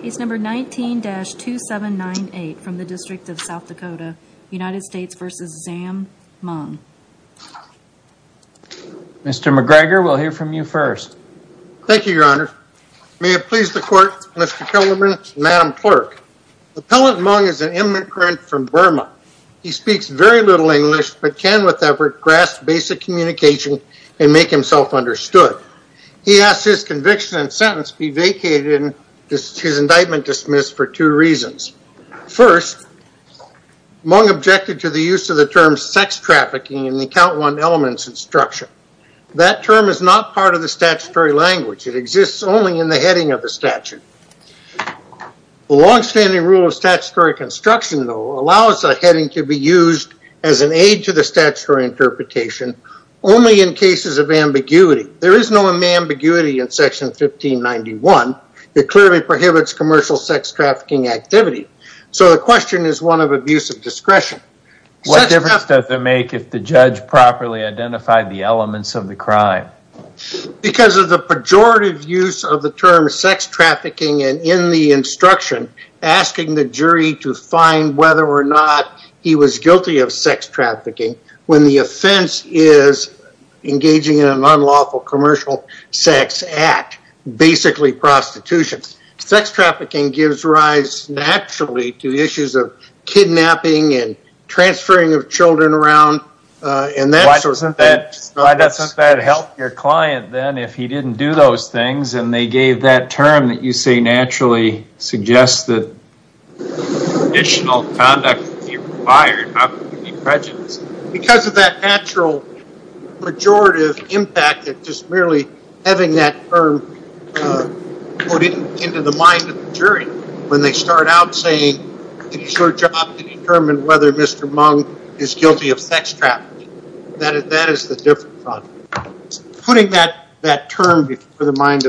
Case number 19-2798 from the District of South Dakota, United States v. Zam Mung. Mr. McGregor, we'll hear from you first. Thank you, Your Honor. May it please the Court, Mr. Killerman, Madam Clerk. Appellant Mung is an immigrant from Burma. He speaks very little English but can, with effort, grasp basic communication and make himself understood. He asks his conviction and his indictment dismissed for two reasons. First, Mung objected to the use of the term sex trafficking in the Count One Elements Instruction. That term is not part of the statutory language. It exists only in the heading of the statute. The long-standing rule of statutory construction, though, allows a heading to be used as an aid to the statutory interpretation only in cases of prohibits commercial sex trafficking activity. So the question is one of abuse of discretion. What difference does it make if the judge properly identified the elements of the crime? Because of the pejorative use of the term sex trafficking and in the instruction asking the jury to find whether or not he was guilty of sex trafficking when the offense is engaging in an unlawful commercial sex act, basically prostitution. Sex trafficking gives rise naturally to the issues of kidnapping and transferring of children around and that sort of thing. Why doesn't that help your client then if he didn't do those things and they gave that term that you say naturally suggests that additional merely having that term put into the mind of the jury when they start out saying it's your job to determine whether Mr. Mung is guilty of sex trafficking. That is the different thought. Putting that term in the mind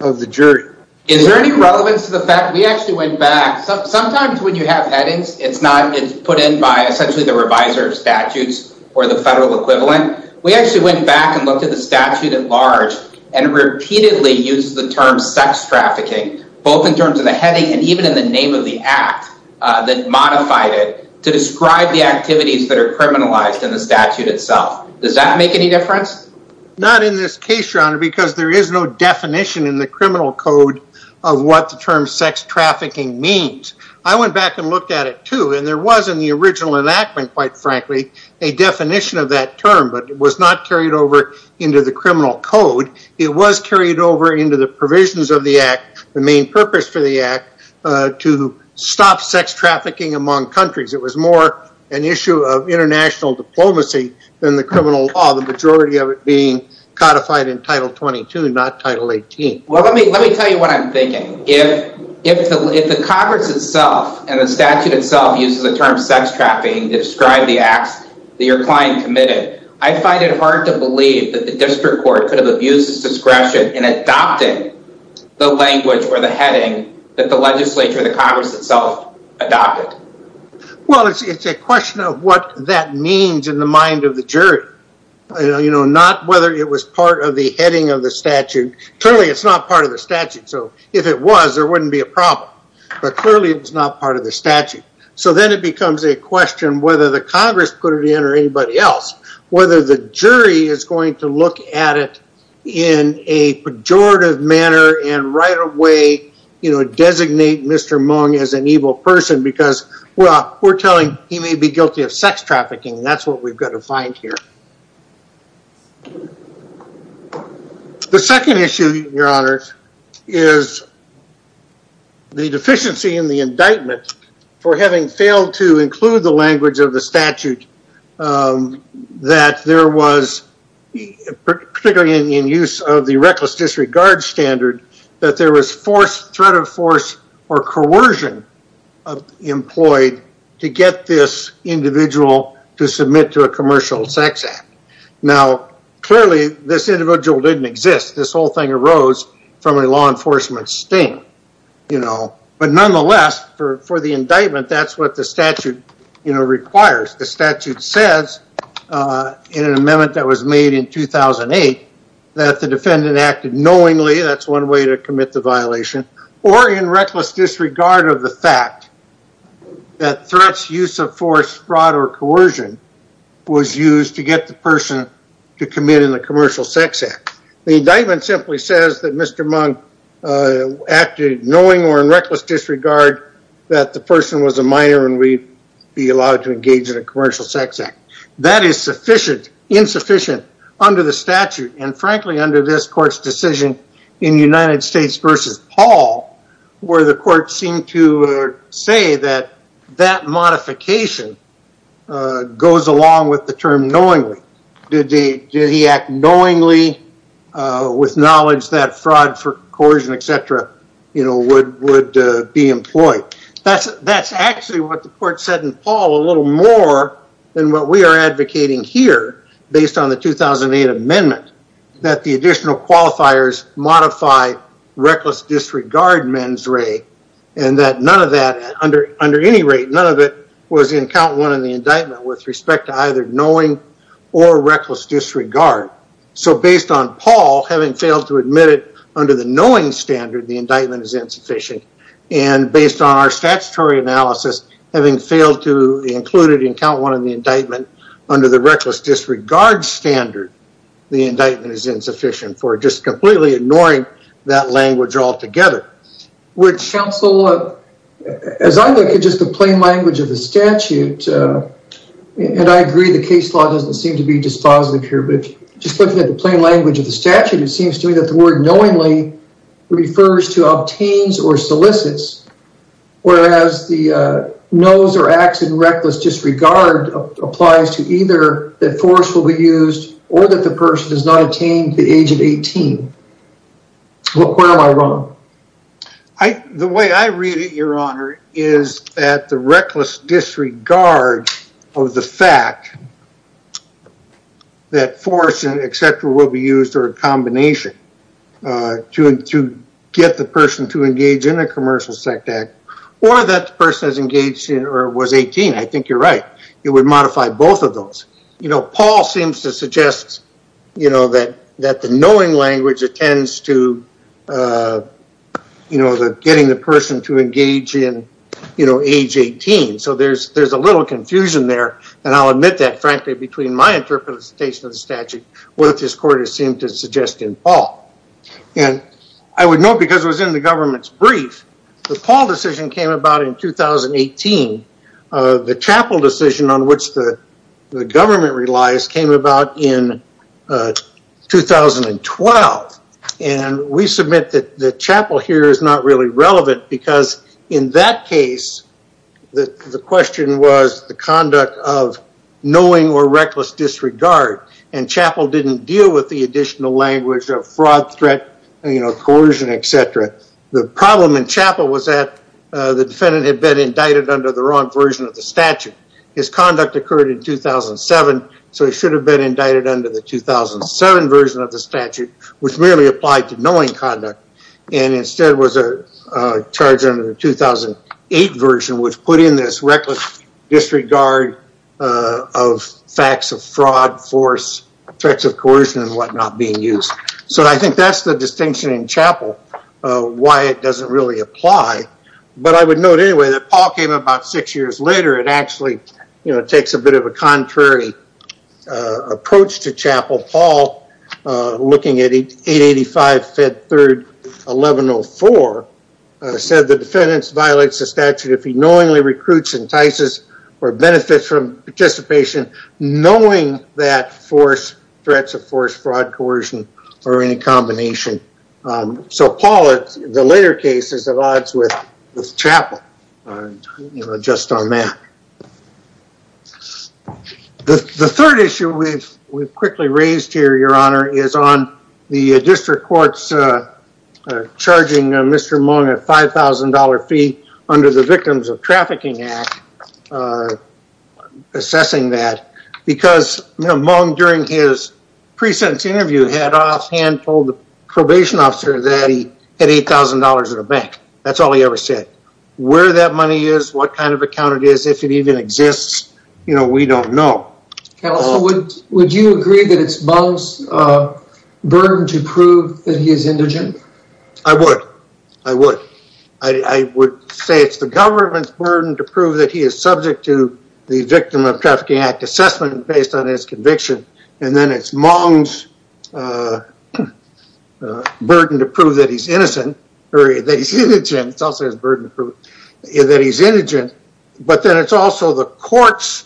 of the jury. Is there any relevance to the fact that we actually went back, sometimes when you have headings it's not put in by essentially the reviser of statutes or the federal equivalent. We actually went back and looked at the statute at large and repeatedly used the term sex trafficking both in terms of the heading and even in the name of the act that modified it to describe the activities that are criminalized in the statute itself. Does that make any difference? Not in this case your honor because there is no definition in the criminal code of what the term sex trafficking means. I went back and looked at it too and there was in the original enactment quite frankly a definition of that term but it was not carried over into the criminal code. It was carried over into the provisions of the act, the main purpose for the act to stop sex trafficking among countries. It was more an issue of international diplomacy than the criminal law. The majority of it being codified in title 22 not title 18. Well let me tell you what I'm thinking. If the congress itself and the statute itself uses the term sex trafficking to describe the acts that your client committed, I find it hard to believe that the district court could have abused its discretion in adopting the language or the heading that the legislature or the congress itself adopted. Well it's a question of what that means in the mind of the jury. Not whether it was part of the heading of the statute. Clearly it's not part of the statute so if it was there wouldn't be a problem. But clearly it's not part of the statute. So then it becomes a question whether the congress put it in or anybody else. Whether the jury is going to look at it in a pejorative manner and right away designate Mr. Mung as an evil person because well we're telling he may be guilty of sex trafficking and that's what we've got to find here. The second issue, your honors, is the deficiency in the indictment for having failed to include the language of the statute that there was particularly in use of the reckless disregard standard that there was threat of force or coercion employed to get this individual to submit to a commercial sex act. Now clearly this individual didn't exist. This whole thing arose from a law enforcement sting. But nonetheless for the indictment that's what the statute requires. The statute says in an amendment that was made in 2008 that the defendant acted knowingly, that's one way to commit the violation, or in reckless disregard of the fact that threats, use of force, fraud or coercion was used to get the person to commit in a commercial sex act. The indictment simply says that Mr. Mung acted knowingly or in reckless disregard that the person was a minor and would be allowed to engage in a commercial sex act. That is sufficient, insufficient under the statute and frankly under this court's decision in United States v. Paul where the court seemed to say that that modification goes along with the term knowingly. Did he act knowingly with knowledge that fraud, coercion, etc. would be employed. That's actually what the court said in Paul a little more than what we are advocating here based on the 2008 amendment. That the additional qualifiers modify reckless disregard mens re and that none of that under any rate, none of it was in count one in the indictment with respect to either knowing or reckless disregard. So based on Paul having failed to admit it under the knowing standard the indictment is insufficient and based on our statutory analysis having failed to include it in count one of the indictment under the reckless disregard standard the indictment is insufficient for just completely ignoring that language altogether. Would counsel, as I look at just the plain language of the statute and I agree the case law doesn't seem to be dispositive here but just looking at the plain language of the statute it seems to me that the word knowingly refers to obtains or solicits whereas the knows or acts in reckless disregard applies to either that force will be used or that the person has not attained the age of 18. Where am I wrong? The way I read it, your honor, is that the reckless disregard of the fact that force, etc. will be used or a combination to get the person to engage in a commercial sect act or that the person has engaged or was 18. I think you're right. It would modify both of those. You know, Paul seems to suggest, you know, that the knowing language attends to, you know, getting the person to engage in, you know, age 18. So there's a little confusion there and I'll admit that frankly between my interpretation of the statute and what this court has seemed to suggest in Paul. And I would note because it was in the government's brief, the Paul decision came about in 2018. The Chappell decision on which the government relies came about in 2012. And we submit that the Chappell here is not really relevant because in that case, the question was the conduct of knowing or reckless disregard. And Chappell didn't deal with the additional language of fraud, threat, you know, coercion, etc. The problem in Chappell was that the defendant had been indicted under the wrong version of the statute. His conduct occurred in 2007, so he should have been indicted under the 2007 version of the statute, which merely applied to knowing conduct. And instead was charged under the 2008 version, which put in this reckless disregard of facts of fraud, force, threats of coercion, and whatnot being used. So I think that's the distinction in Chappell, why it doesn't really apply. But I would note anyway that Paul came about six years later and actually, you know, takes a bit of a contrary approach to Chappell. Paul, looking at 885 Fed 3rd 1104, said the defendant violates the statute if he knowingly recruits, entices, or benefits from participation, knowing that force, threats of force, fraud, coercion, or any combination. So Paul, the later case is at odds with Chappell, just on that. The third issue we've quickly raised here, Your Honor, is on the district courts charging Mr. Mung a $5,000 fee under the Victims of Trafficking Act, assessing that. Because Mung, during his pre-sentence interview, had offhand told the probation officer that he had $8,000 in the bank. That's all he ever said. Where that money is, what kind of account it is, if it even exists, you know, we don't know. Counsel, would you agree that it's Mung's burden to prove that he is indigent? I would. I would. I would say it's the government's burden to prove that he is subject to the Victim of Trafficking Act assessment based on his conviction. And then it's Mung's burden to prove that he's innocent, or that he's indigent. It's also his burden to prove that he's indigent. But then it's also the court's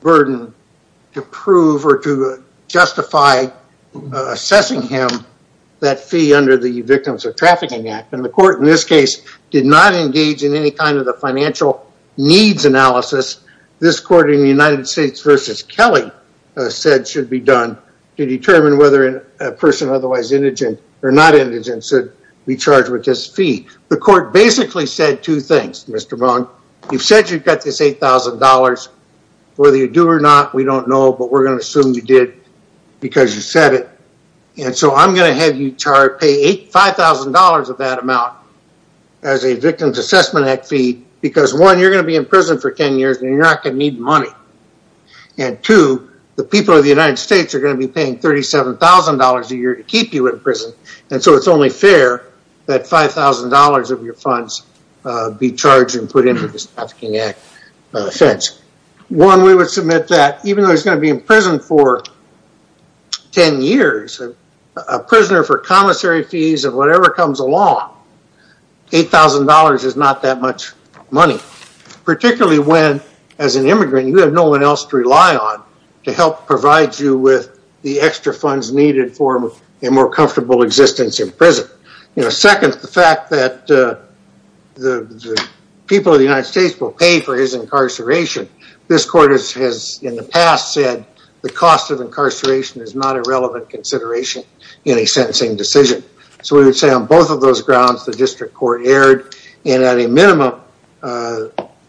burden to prove or to justify assessing him that fee under the Victims of Trafficking Act. And the court in this case did not engage in any kind of a financial needs analysis. This court in the United States v. Kelly said should be done to determine whether a person otherwise indigent or not indigent should be charged with this fee. The court basically said two things, Mr. Mung. You've said you've got this $8,000. Whether you do or not, we don't know. But we're going to assume you did because you said it. And so I'm going to have you pay $5,000 of that amount as a Victims Assessment Act fee. Because one, you're going to be in prison for 10 years, and you're not going to need money. And two, the people of the United States are going to be paying $37,000 a year to keep you in prison. And so it's only fair that $5,000 of your funds be charged and put into the Trafficking Act offense. One, we would submit that even though he's going to be in prison for 10 years, a prisoner for commissary fees or whatever comes along, $8,000 is not that much money. Particularly when, as an immigrant, you have no one else to rely on to help provide you with the extra funds needed for a more comfortable existence in prison. Second, the fact that the people of the United States will pay for his incarceration. This court has in the past said the cost of incarceration is not a relevant consideration in a sentencing decision. So we would say on both of those grounds, the district court erred. And at a minimum,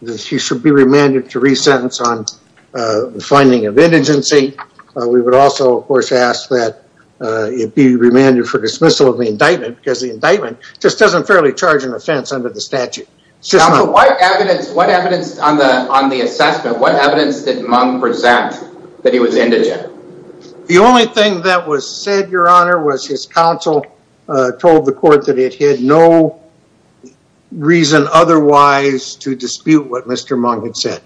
he should be remanded to resentence on the finding of indigency. We would also, of course, ask that he be remanded for dismissal of the indictment because the indictment just doesn't fairly charge an offense under the statute. Counsel, what evidence on the assessment, what evidence did Monk present that he was indigent? The only thing that was said, Your Honor, was his counsel told the court that it had no reason otherwise to dispute what Mr. Monk had said.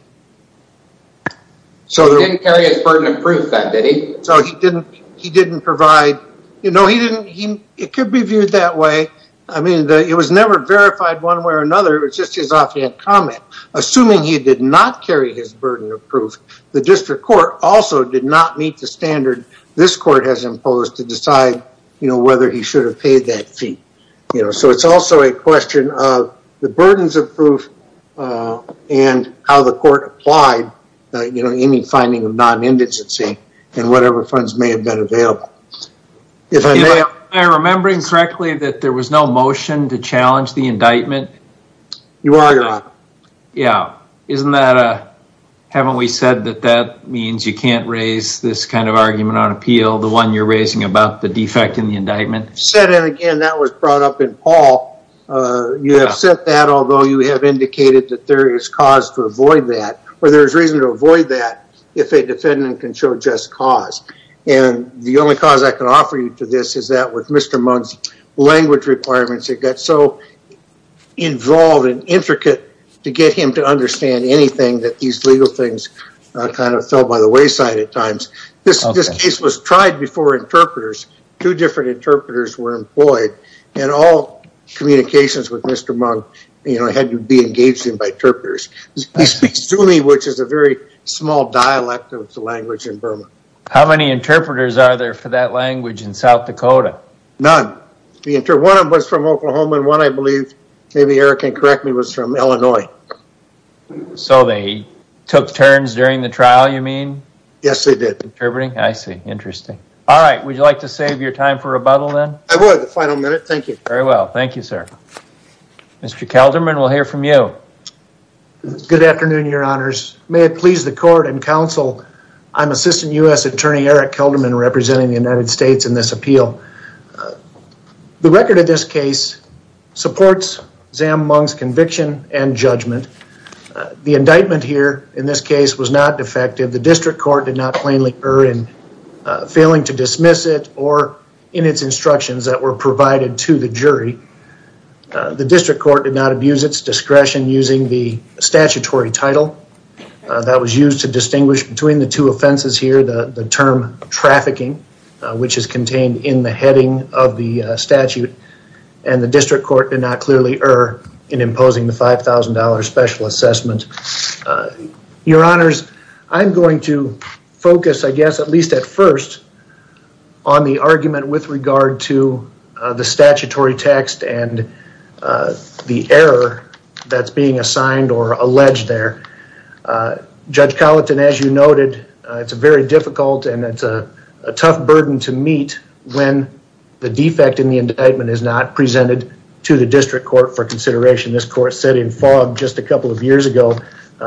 He didn't carry his burden of proof, then, did he? No, he didn't. It could be viewed that way. I mean, it was never verified one way or another. It was just his offhand comment. Assuming he did not carry his burden of proof, the district court also did not meet the standard this court has imposed to decide whether he should have paid that fee. So it's also a question of the burdens of proof and how the court applied any finding of non-indigency and whatever funds may have been available. If I may, am I remembering correctly that there was no motion to challenge the indictment? You are, Your Honor. Yeah. Isn't that, haven't we said that that means you can't raise this kind of argument on appeal, the one you're raising about the defect in the indictment? Said it again, that was brought up in Paul. You have said that, although you have indicated that there is cause to avoid that, or there is reason to avoid that if a defendant can show just cause. And the only cause I can offer you to this is that with Mr. Monk's language requirements, it got so involved and intricate to get him to understand anything that these legal things kind of fell by the wayside at times. This case was tried before interpreters. Two different interpreters were employed and all communications with Mr. Monk had to be engaged in by interpreters. He speaks Zuni, which is a very small dialect of the language in Burma. How many interpreters are there for that language in South Dakota? None. One of them was from Oklahoma and one, I believe, maybe Eric can correct me, was from Illinois. So they took turns during the trial, you mean? Yes, they did. Interpreting, I see, interesting. All right, would you like to save your time for rebuttal then? I would, the final minute, thank you. Very well, thank you, sir. Mr. Kelderman, we'll hear from you. Good afternoon, your honors. May it please the court and counsel, I'm Assistant U.S. Attorney Eric Kelderman representing the United States in this appeal. The record of this case supports Zam Monk's conviction and judgment. The indictment here in this case was not defective. The district court did not plainly err in failing to dismiss it or in its instructions that were provided to the jury. The district court did not abuse its discretion using the statutory title. That was used to distinguish between the two offenses here, the term trafficking, which is contained in the heading of the statute. And the district court did not clearly err in imposing the $5,000 special assessment. Your honors, I'm going to focus, I guess, at least at first, on the argument with regard to the statutory text and the error that's being assigned or alleged there. Judge Colleton, as you noted, it's very difficult and it's a tough burden to meet when the defect in the indictment is not presented to the district court for consideration. This court said in fog just a couple of years ago,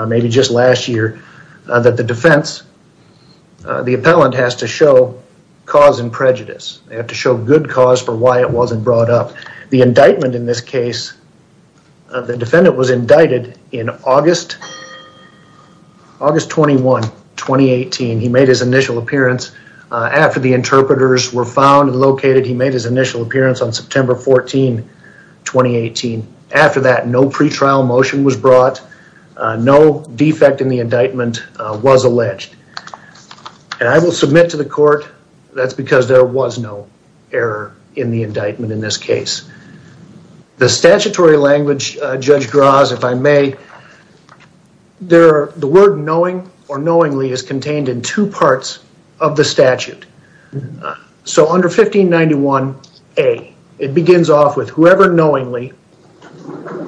maybe just last year, that the defense, the appellant has to show cause and prejudice. They have to show good cause for why it wasn't brought up. The indictment in this case, the defendant was indicted in August 21, 2018. He made his initial appearance. After the interpreters were found and located, he made his initial appearance on September 14, 2018. After that, no pretrial motion was brought. No defect in the indictment was alleged. And I will submit to the court that's because there was no error in the indictment in this case. The statutory language, Judge Graz, if I may, the word knowing or knowingly is contained in two parts of the statute. So under 1591A, it begins off with whoever knowingly.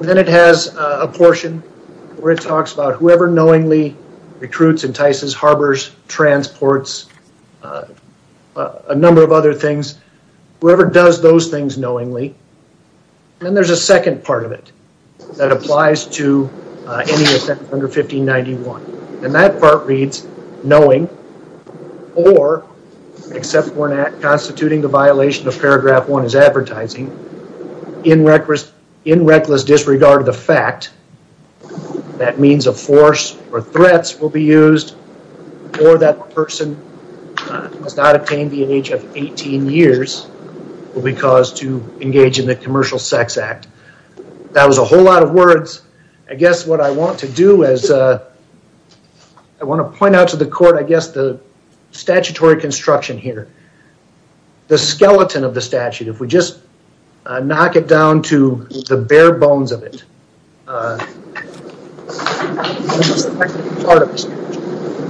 Then it has a portion where it talks about whoever knowingly recruits, entices, harbors, transports, a number of other things. Whoever does those things knowingly. And there's a second part of it that applies to any offense under 1591. And that part reads, knowing or, except when constituting the violation of paragraph one is advertising, in reckless disregard of the fact that means of force or threats will be used or that person must not obtain the age of 18 years will be caused to engage in the commercial sex act. I guess what I want to do is I want to point out to the court, I guess, the statutory construction here. The skeleton of the statute, if we just knock it down to the bare bones of it.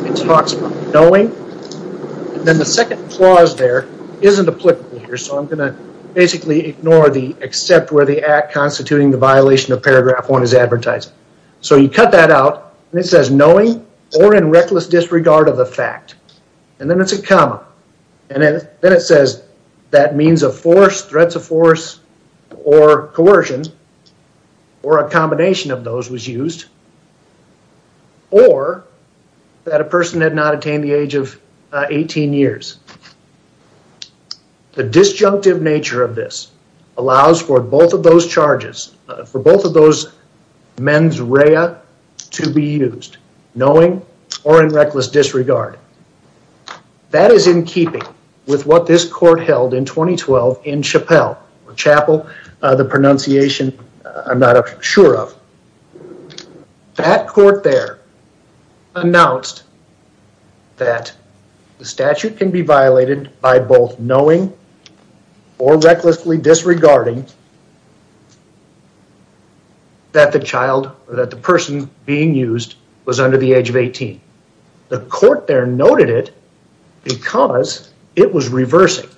It talks about knowing. Then the second clause there isn't applicable here. So I'm going to basically ignore the except where the act constituting the violation of paragraph one is advertising. So you cut that out. And it says knowing or in reckless disregard of the fact. And then it's a comma. And then it says that means of force, threats of force, or coercion, or a combination of those was used, or that a person had not attained the age of 18 years. The disjunctive nature of this allows for both of those charges, for both of those mens rea to be used. Knowing or in reckless disregard. That is in keeping with what this court held in 2012 in Chappell, the pronunciation I'm not sure of. That court there announced that the statute can be violated by both knowing or recklessly disregarding that the person being used was under the age of 18. The court there noted it because it was reversing.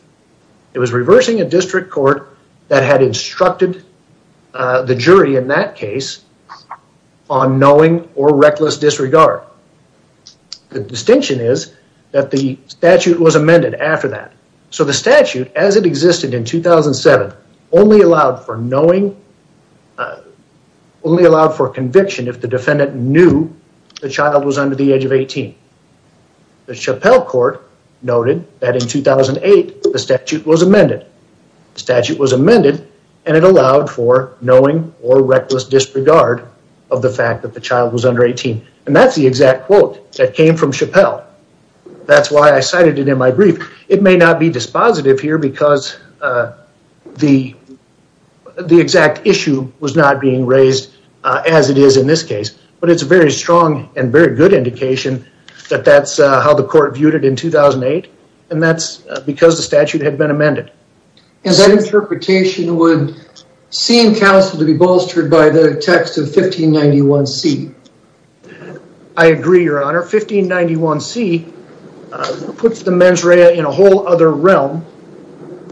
It was reversing a district court that had instructed the jury in that case on knowing or reckless disregard. The distinction is that the statute was amended after that. So the statute as it existed in 2007 only allowed for knowing, only allowed for conviction if the defendant knew the child was under the age of 18. The Chappell court noted that in 2008 the statute was amended. The statute was amended and it allowed for knowing or reckless disregard of the fact that the child was under 18. And that's the exact quote that came from Chappell. That's why I cited it in my brief. It may not be dispositive here because the exact issue was not being raised as it is in this case. But it's a very strong and very good indication that that's how the court viewed it in 2008. And that's because the statute had been amended. And that interpretation would seem counsel to be bolstered by the text of 1591C. I agree, your honor. 1591C puts the mens rea in a whole other realm.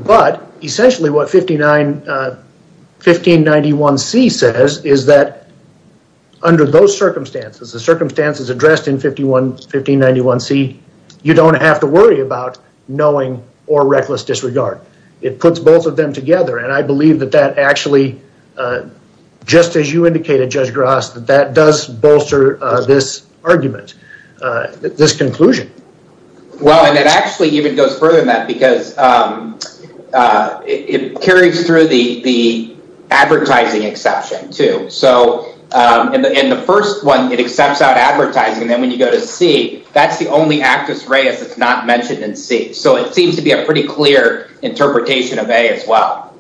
But essentially what 1591C says is that under those circumstances, the circumstances addressed in 1591C, you don't have to worry about knowing or reckless disregard. It puts both of them together. And I believe that that actually, just as you indicated, Judge Gras, that that does bolster this argument, this conclusion. Well, and it actually even goes further than that because it carries through the advertising exception, too. So in the first one, it accepts out advertising. And then when you go to C, that's the only actus reus that's not mentioned in C. So it seems to be a pretty clear interpretation of A as well.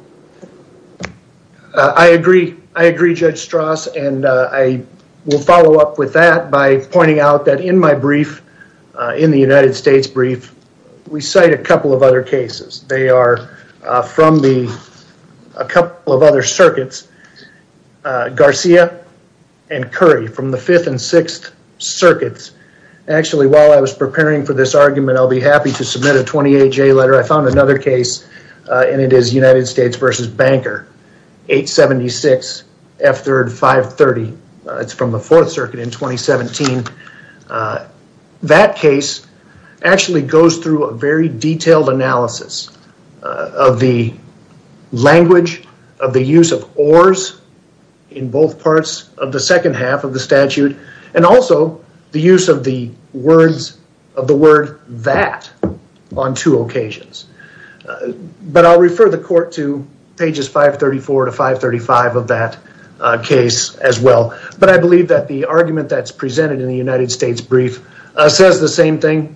I agree. I agree, Judge Strauss. And I will follow up with that by pointing out that in my brief, in the United States brief, we cite a couple of other cases. They are from a couple of other circuits, Garcia and Curry from the 5th and 6th circuits. Actually, while I was preparing for this argument, I'll be happy to submit a 28-J letter. I found another case, and it is United States v. Banker, 876 F3rd 530. It's from the 4th Circuit in 2017. That case actually goes through a very detailed analysis of the language, of the use of ors in both parts of the second half of the statute, and also the use of the word that on two occasions. But I'll refer the court to pages 534 to 535 of that case as well. But I believe that the argument that's presented in the United States brief says the same thing,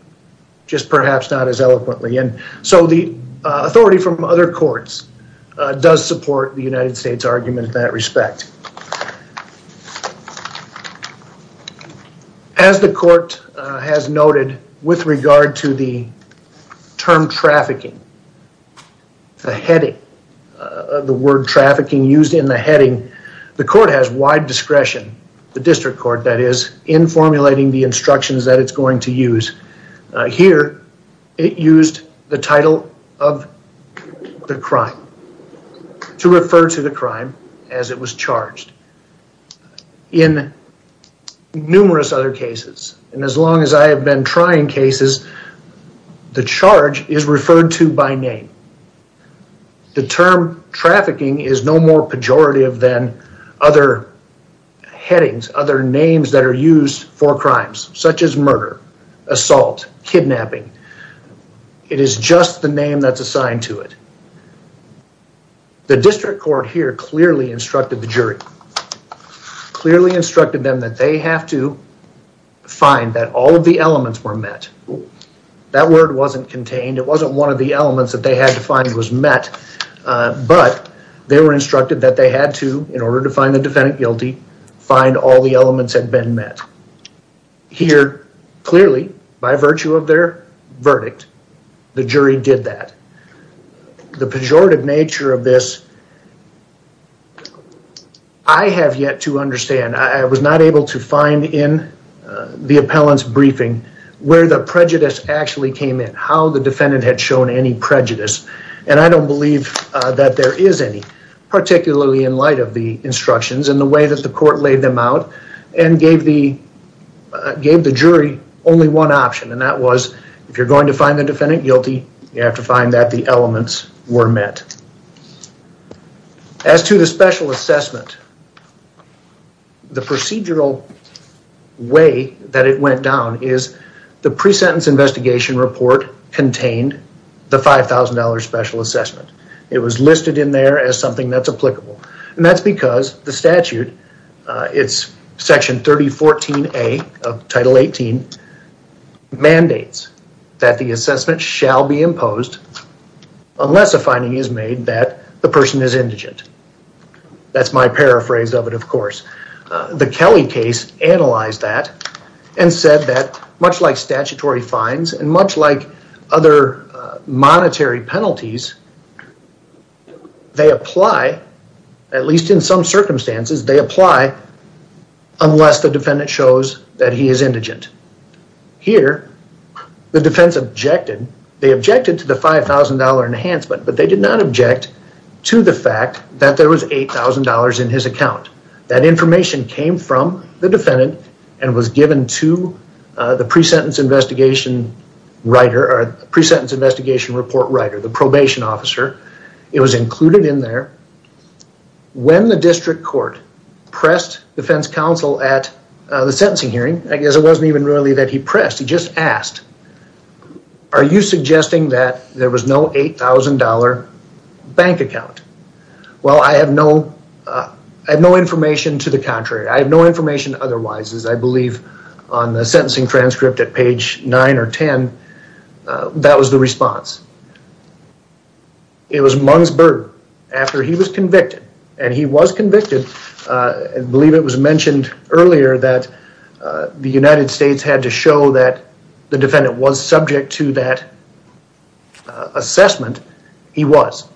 just perhaps not as eloquently. And so the authority from other courts does support the United States argument in that respect. As the court has noted with regard to the term trafficking, the heading, the word trafficking used in the heading, the court has wide discretion, the district court, that is, in formulating the instructions that it's going to use. Here, it used the title of the crime to refer to the crime as it was charged. In numerous other cases, and as long as I have been trying cases, the charge is referred to by name. The term trafficking is no more pejorative than other headings, other names that are used for crimes, such as murder, assault, kidnapping. It is just the name that's assigned to it. The district court here clearly instructed the jury, clearly instructed them that they have to find that all of the elements were met. That word wasn't contained. It wasn't one of the elements that they had to find was met. But they were instructed that they had to, in order to find the defendant guilty, find all the elements had been met. Here, clearly, by virtue of their verdict, the jury did that. The pejorative nature of this, I have yet to understand. I was not able to find in the appellant's briefing where the prejudice actually came in, how the defendant had shown any prejudice. And I don't believe that there is any, particularly in light of the instructions and the way that the court laid them out and gave the jury only one option. And that was, if you're going to find the defendant guilty, you have to find that the elements were met. As to the special assessment, the procedural way that it went down is the pre-sentence investigation report contained the $5,000 special assessment. It was listed in there as something that's applicable. And that's because the statute, it's section 3014A of title 18, mandates that the assessment shall be imposed unless a finding is made that the person is indigent. That's my paraphrase of it, of course. The Kelly case analyzed that and said that much like statutory fines and much like other monetary penalties, they apply, at least in some circumstances, they apply unless the defendant shows that he is indigent. Here, the defense objected. They objected to the $5,000 enhancement, but they did not object to the fact that there was $8,000 in his account. That information came from the defendant and was given to the pre-sentence investigation report writer, the probation officer. It was included in there. When the district court pressed defense counsel at the sentencing hearing, I guess it wasn't even really that he pressed. He just asked, are you suggesting that there was no $8,000 bank account? Well, I have no information to the contrary. I have no information otherwise, as I believe on the sentencing transcript at page 9 or 10, that was the response. It was Mungsberg after he was convicted, and he was convicted. I believe it was mentioned earlier that the United States had to show that the defendant was subject to that assessment. He was.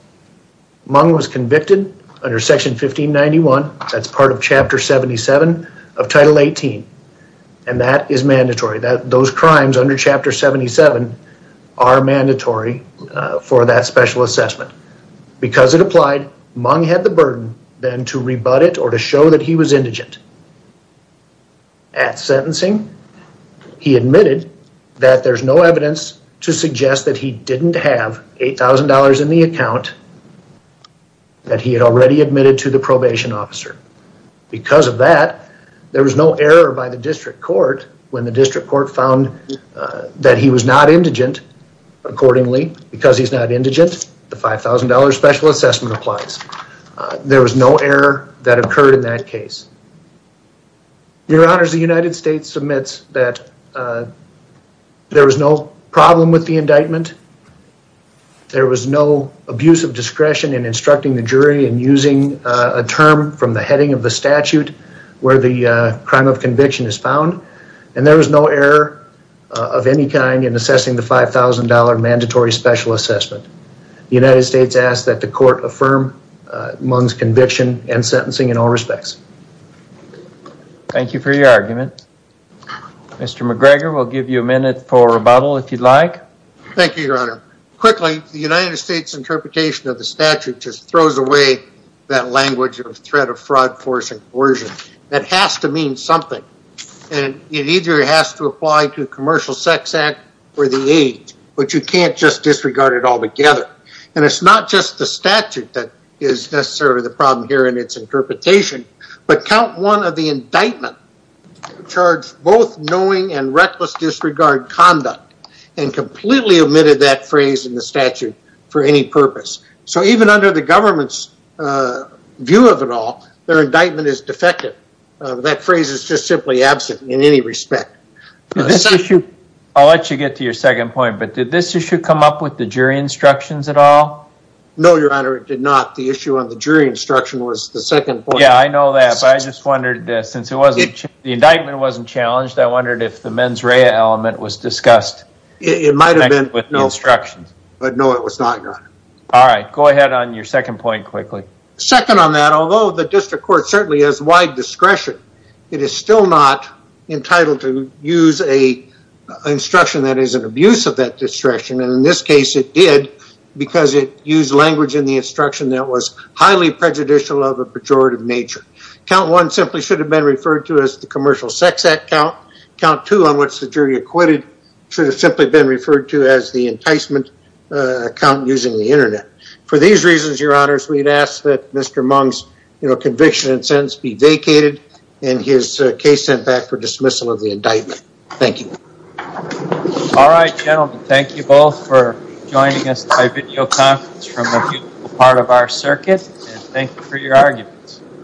Mung was convicted under Section 1591, that's part of Chapter 77 of Title 18, and that is mandatory. Those crimes under Chapter 77 are mandatory for that special assessment. Because it applied, Mung had the burden then to rebut it or to show that he was indigent. At sentencing, he admitted that there's no evidence to suggest that he didn't have $8,000 in the account that he had already admitted to the probation officer. Because of that, there was no error by the district court when the district court found that he was not indigent. Accordingly, because he's not indigent, the $5,000 special assessment applies. There was no error that occurred in that case. Your Honors, the United States submits that there was no problem with the indictment. There was no abuse of discretion in instructing the jury in using a term from the heading of the statute where the crime of conviction is found. And there was no error of any kind in assessing the $5,000 mandatory special assessment. The United States asks that the court affirm Mung's conviction and sentencing in all respects. Thank you for your argument. Mr. McGregor, we'll give you a minute for rebuttal if you'd like. Thank you, Your Honor. Quickly, the United States interpretation of the statute just throws away that language of threat of fraud, force, and coercion. That has to mean something. It either has to apply to a commercial sex act or the age, but you can't just disregard it altogether. And it's not just the statute that is necessarily the problem here in its interpretation. But count one of the indictment charged both knowing and reckless disregard conduct and completely omitted that phrase in the statute for any purpose. So even under the government's view of it all, their indictment is defective. That phrase is just simply absent in any respect. I'll let you get to your second point. But did this issue come up with the jury instructions at all? No, Your Honor, it did not. The issue of the jury instruction was the second point. Yeah, I know that. But I just wondered, since the indictment wasn't challenged, I wondered if the mens rea element was discussed. It might have been with no instructions. But no, it was not, Your Honor. All right. Go ahead on your second point quickly. Second on that, although the district court certainly has wide discretion, it is still not entitled to use an instruction that is an abuse of that instruction. And in this case it did because it used language in the instruction that was highly prejudicial of a pejorative nature. Count one simply should have been referred to as the commercial sex act count. Count two on which the jury acquitted should have simply been referred to as the enticement count using the Internet. For these reasons, Your Honors, we'd ask that Mr. Mung's conviction and sentence be vacated and his case sent back for dismissal of the indictment. Thank you. All right, gentlemen. Thank you both for joining us at a video conference from a beautiful part of our circuit. And thank you for your arguments.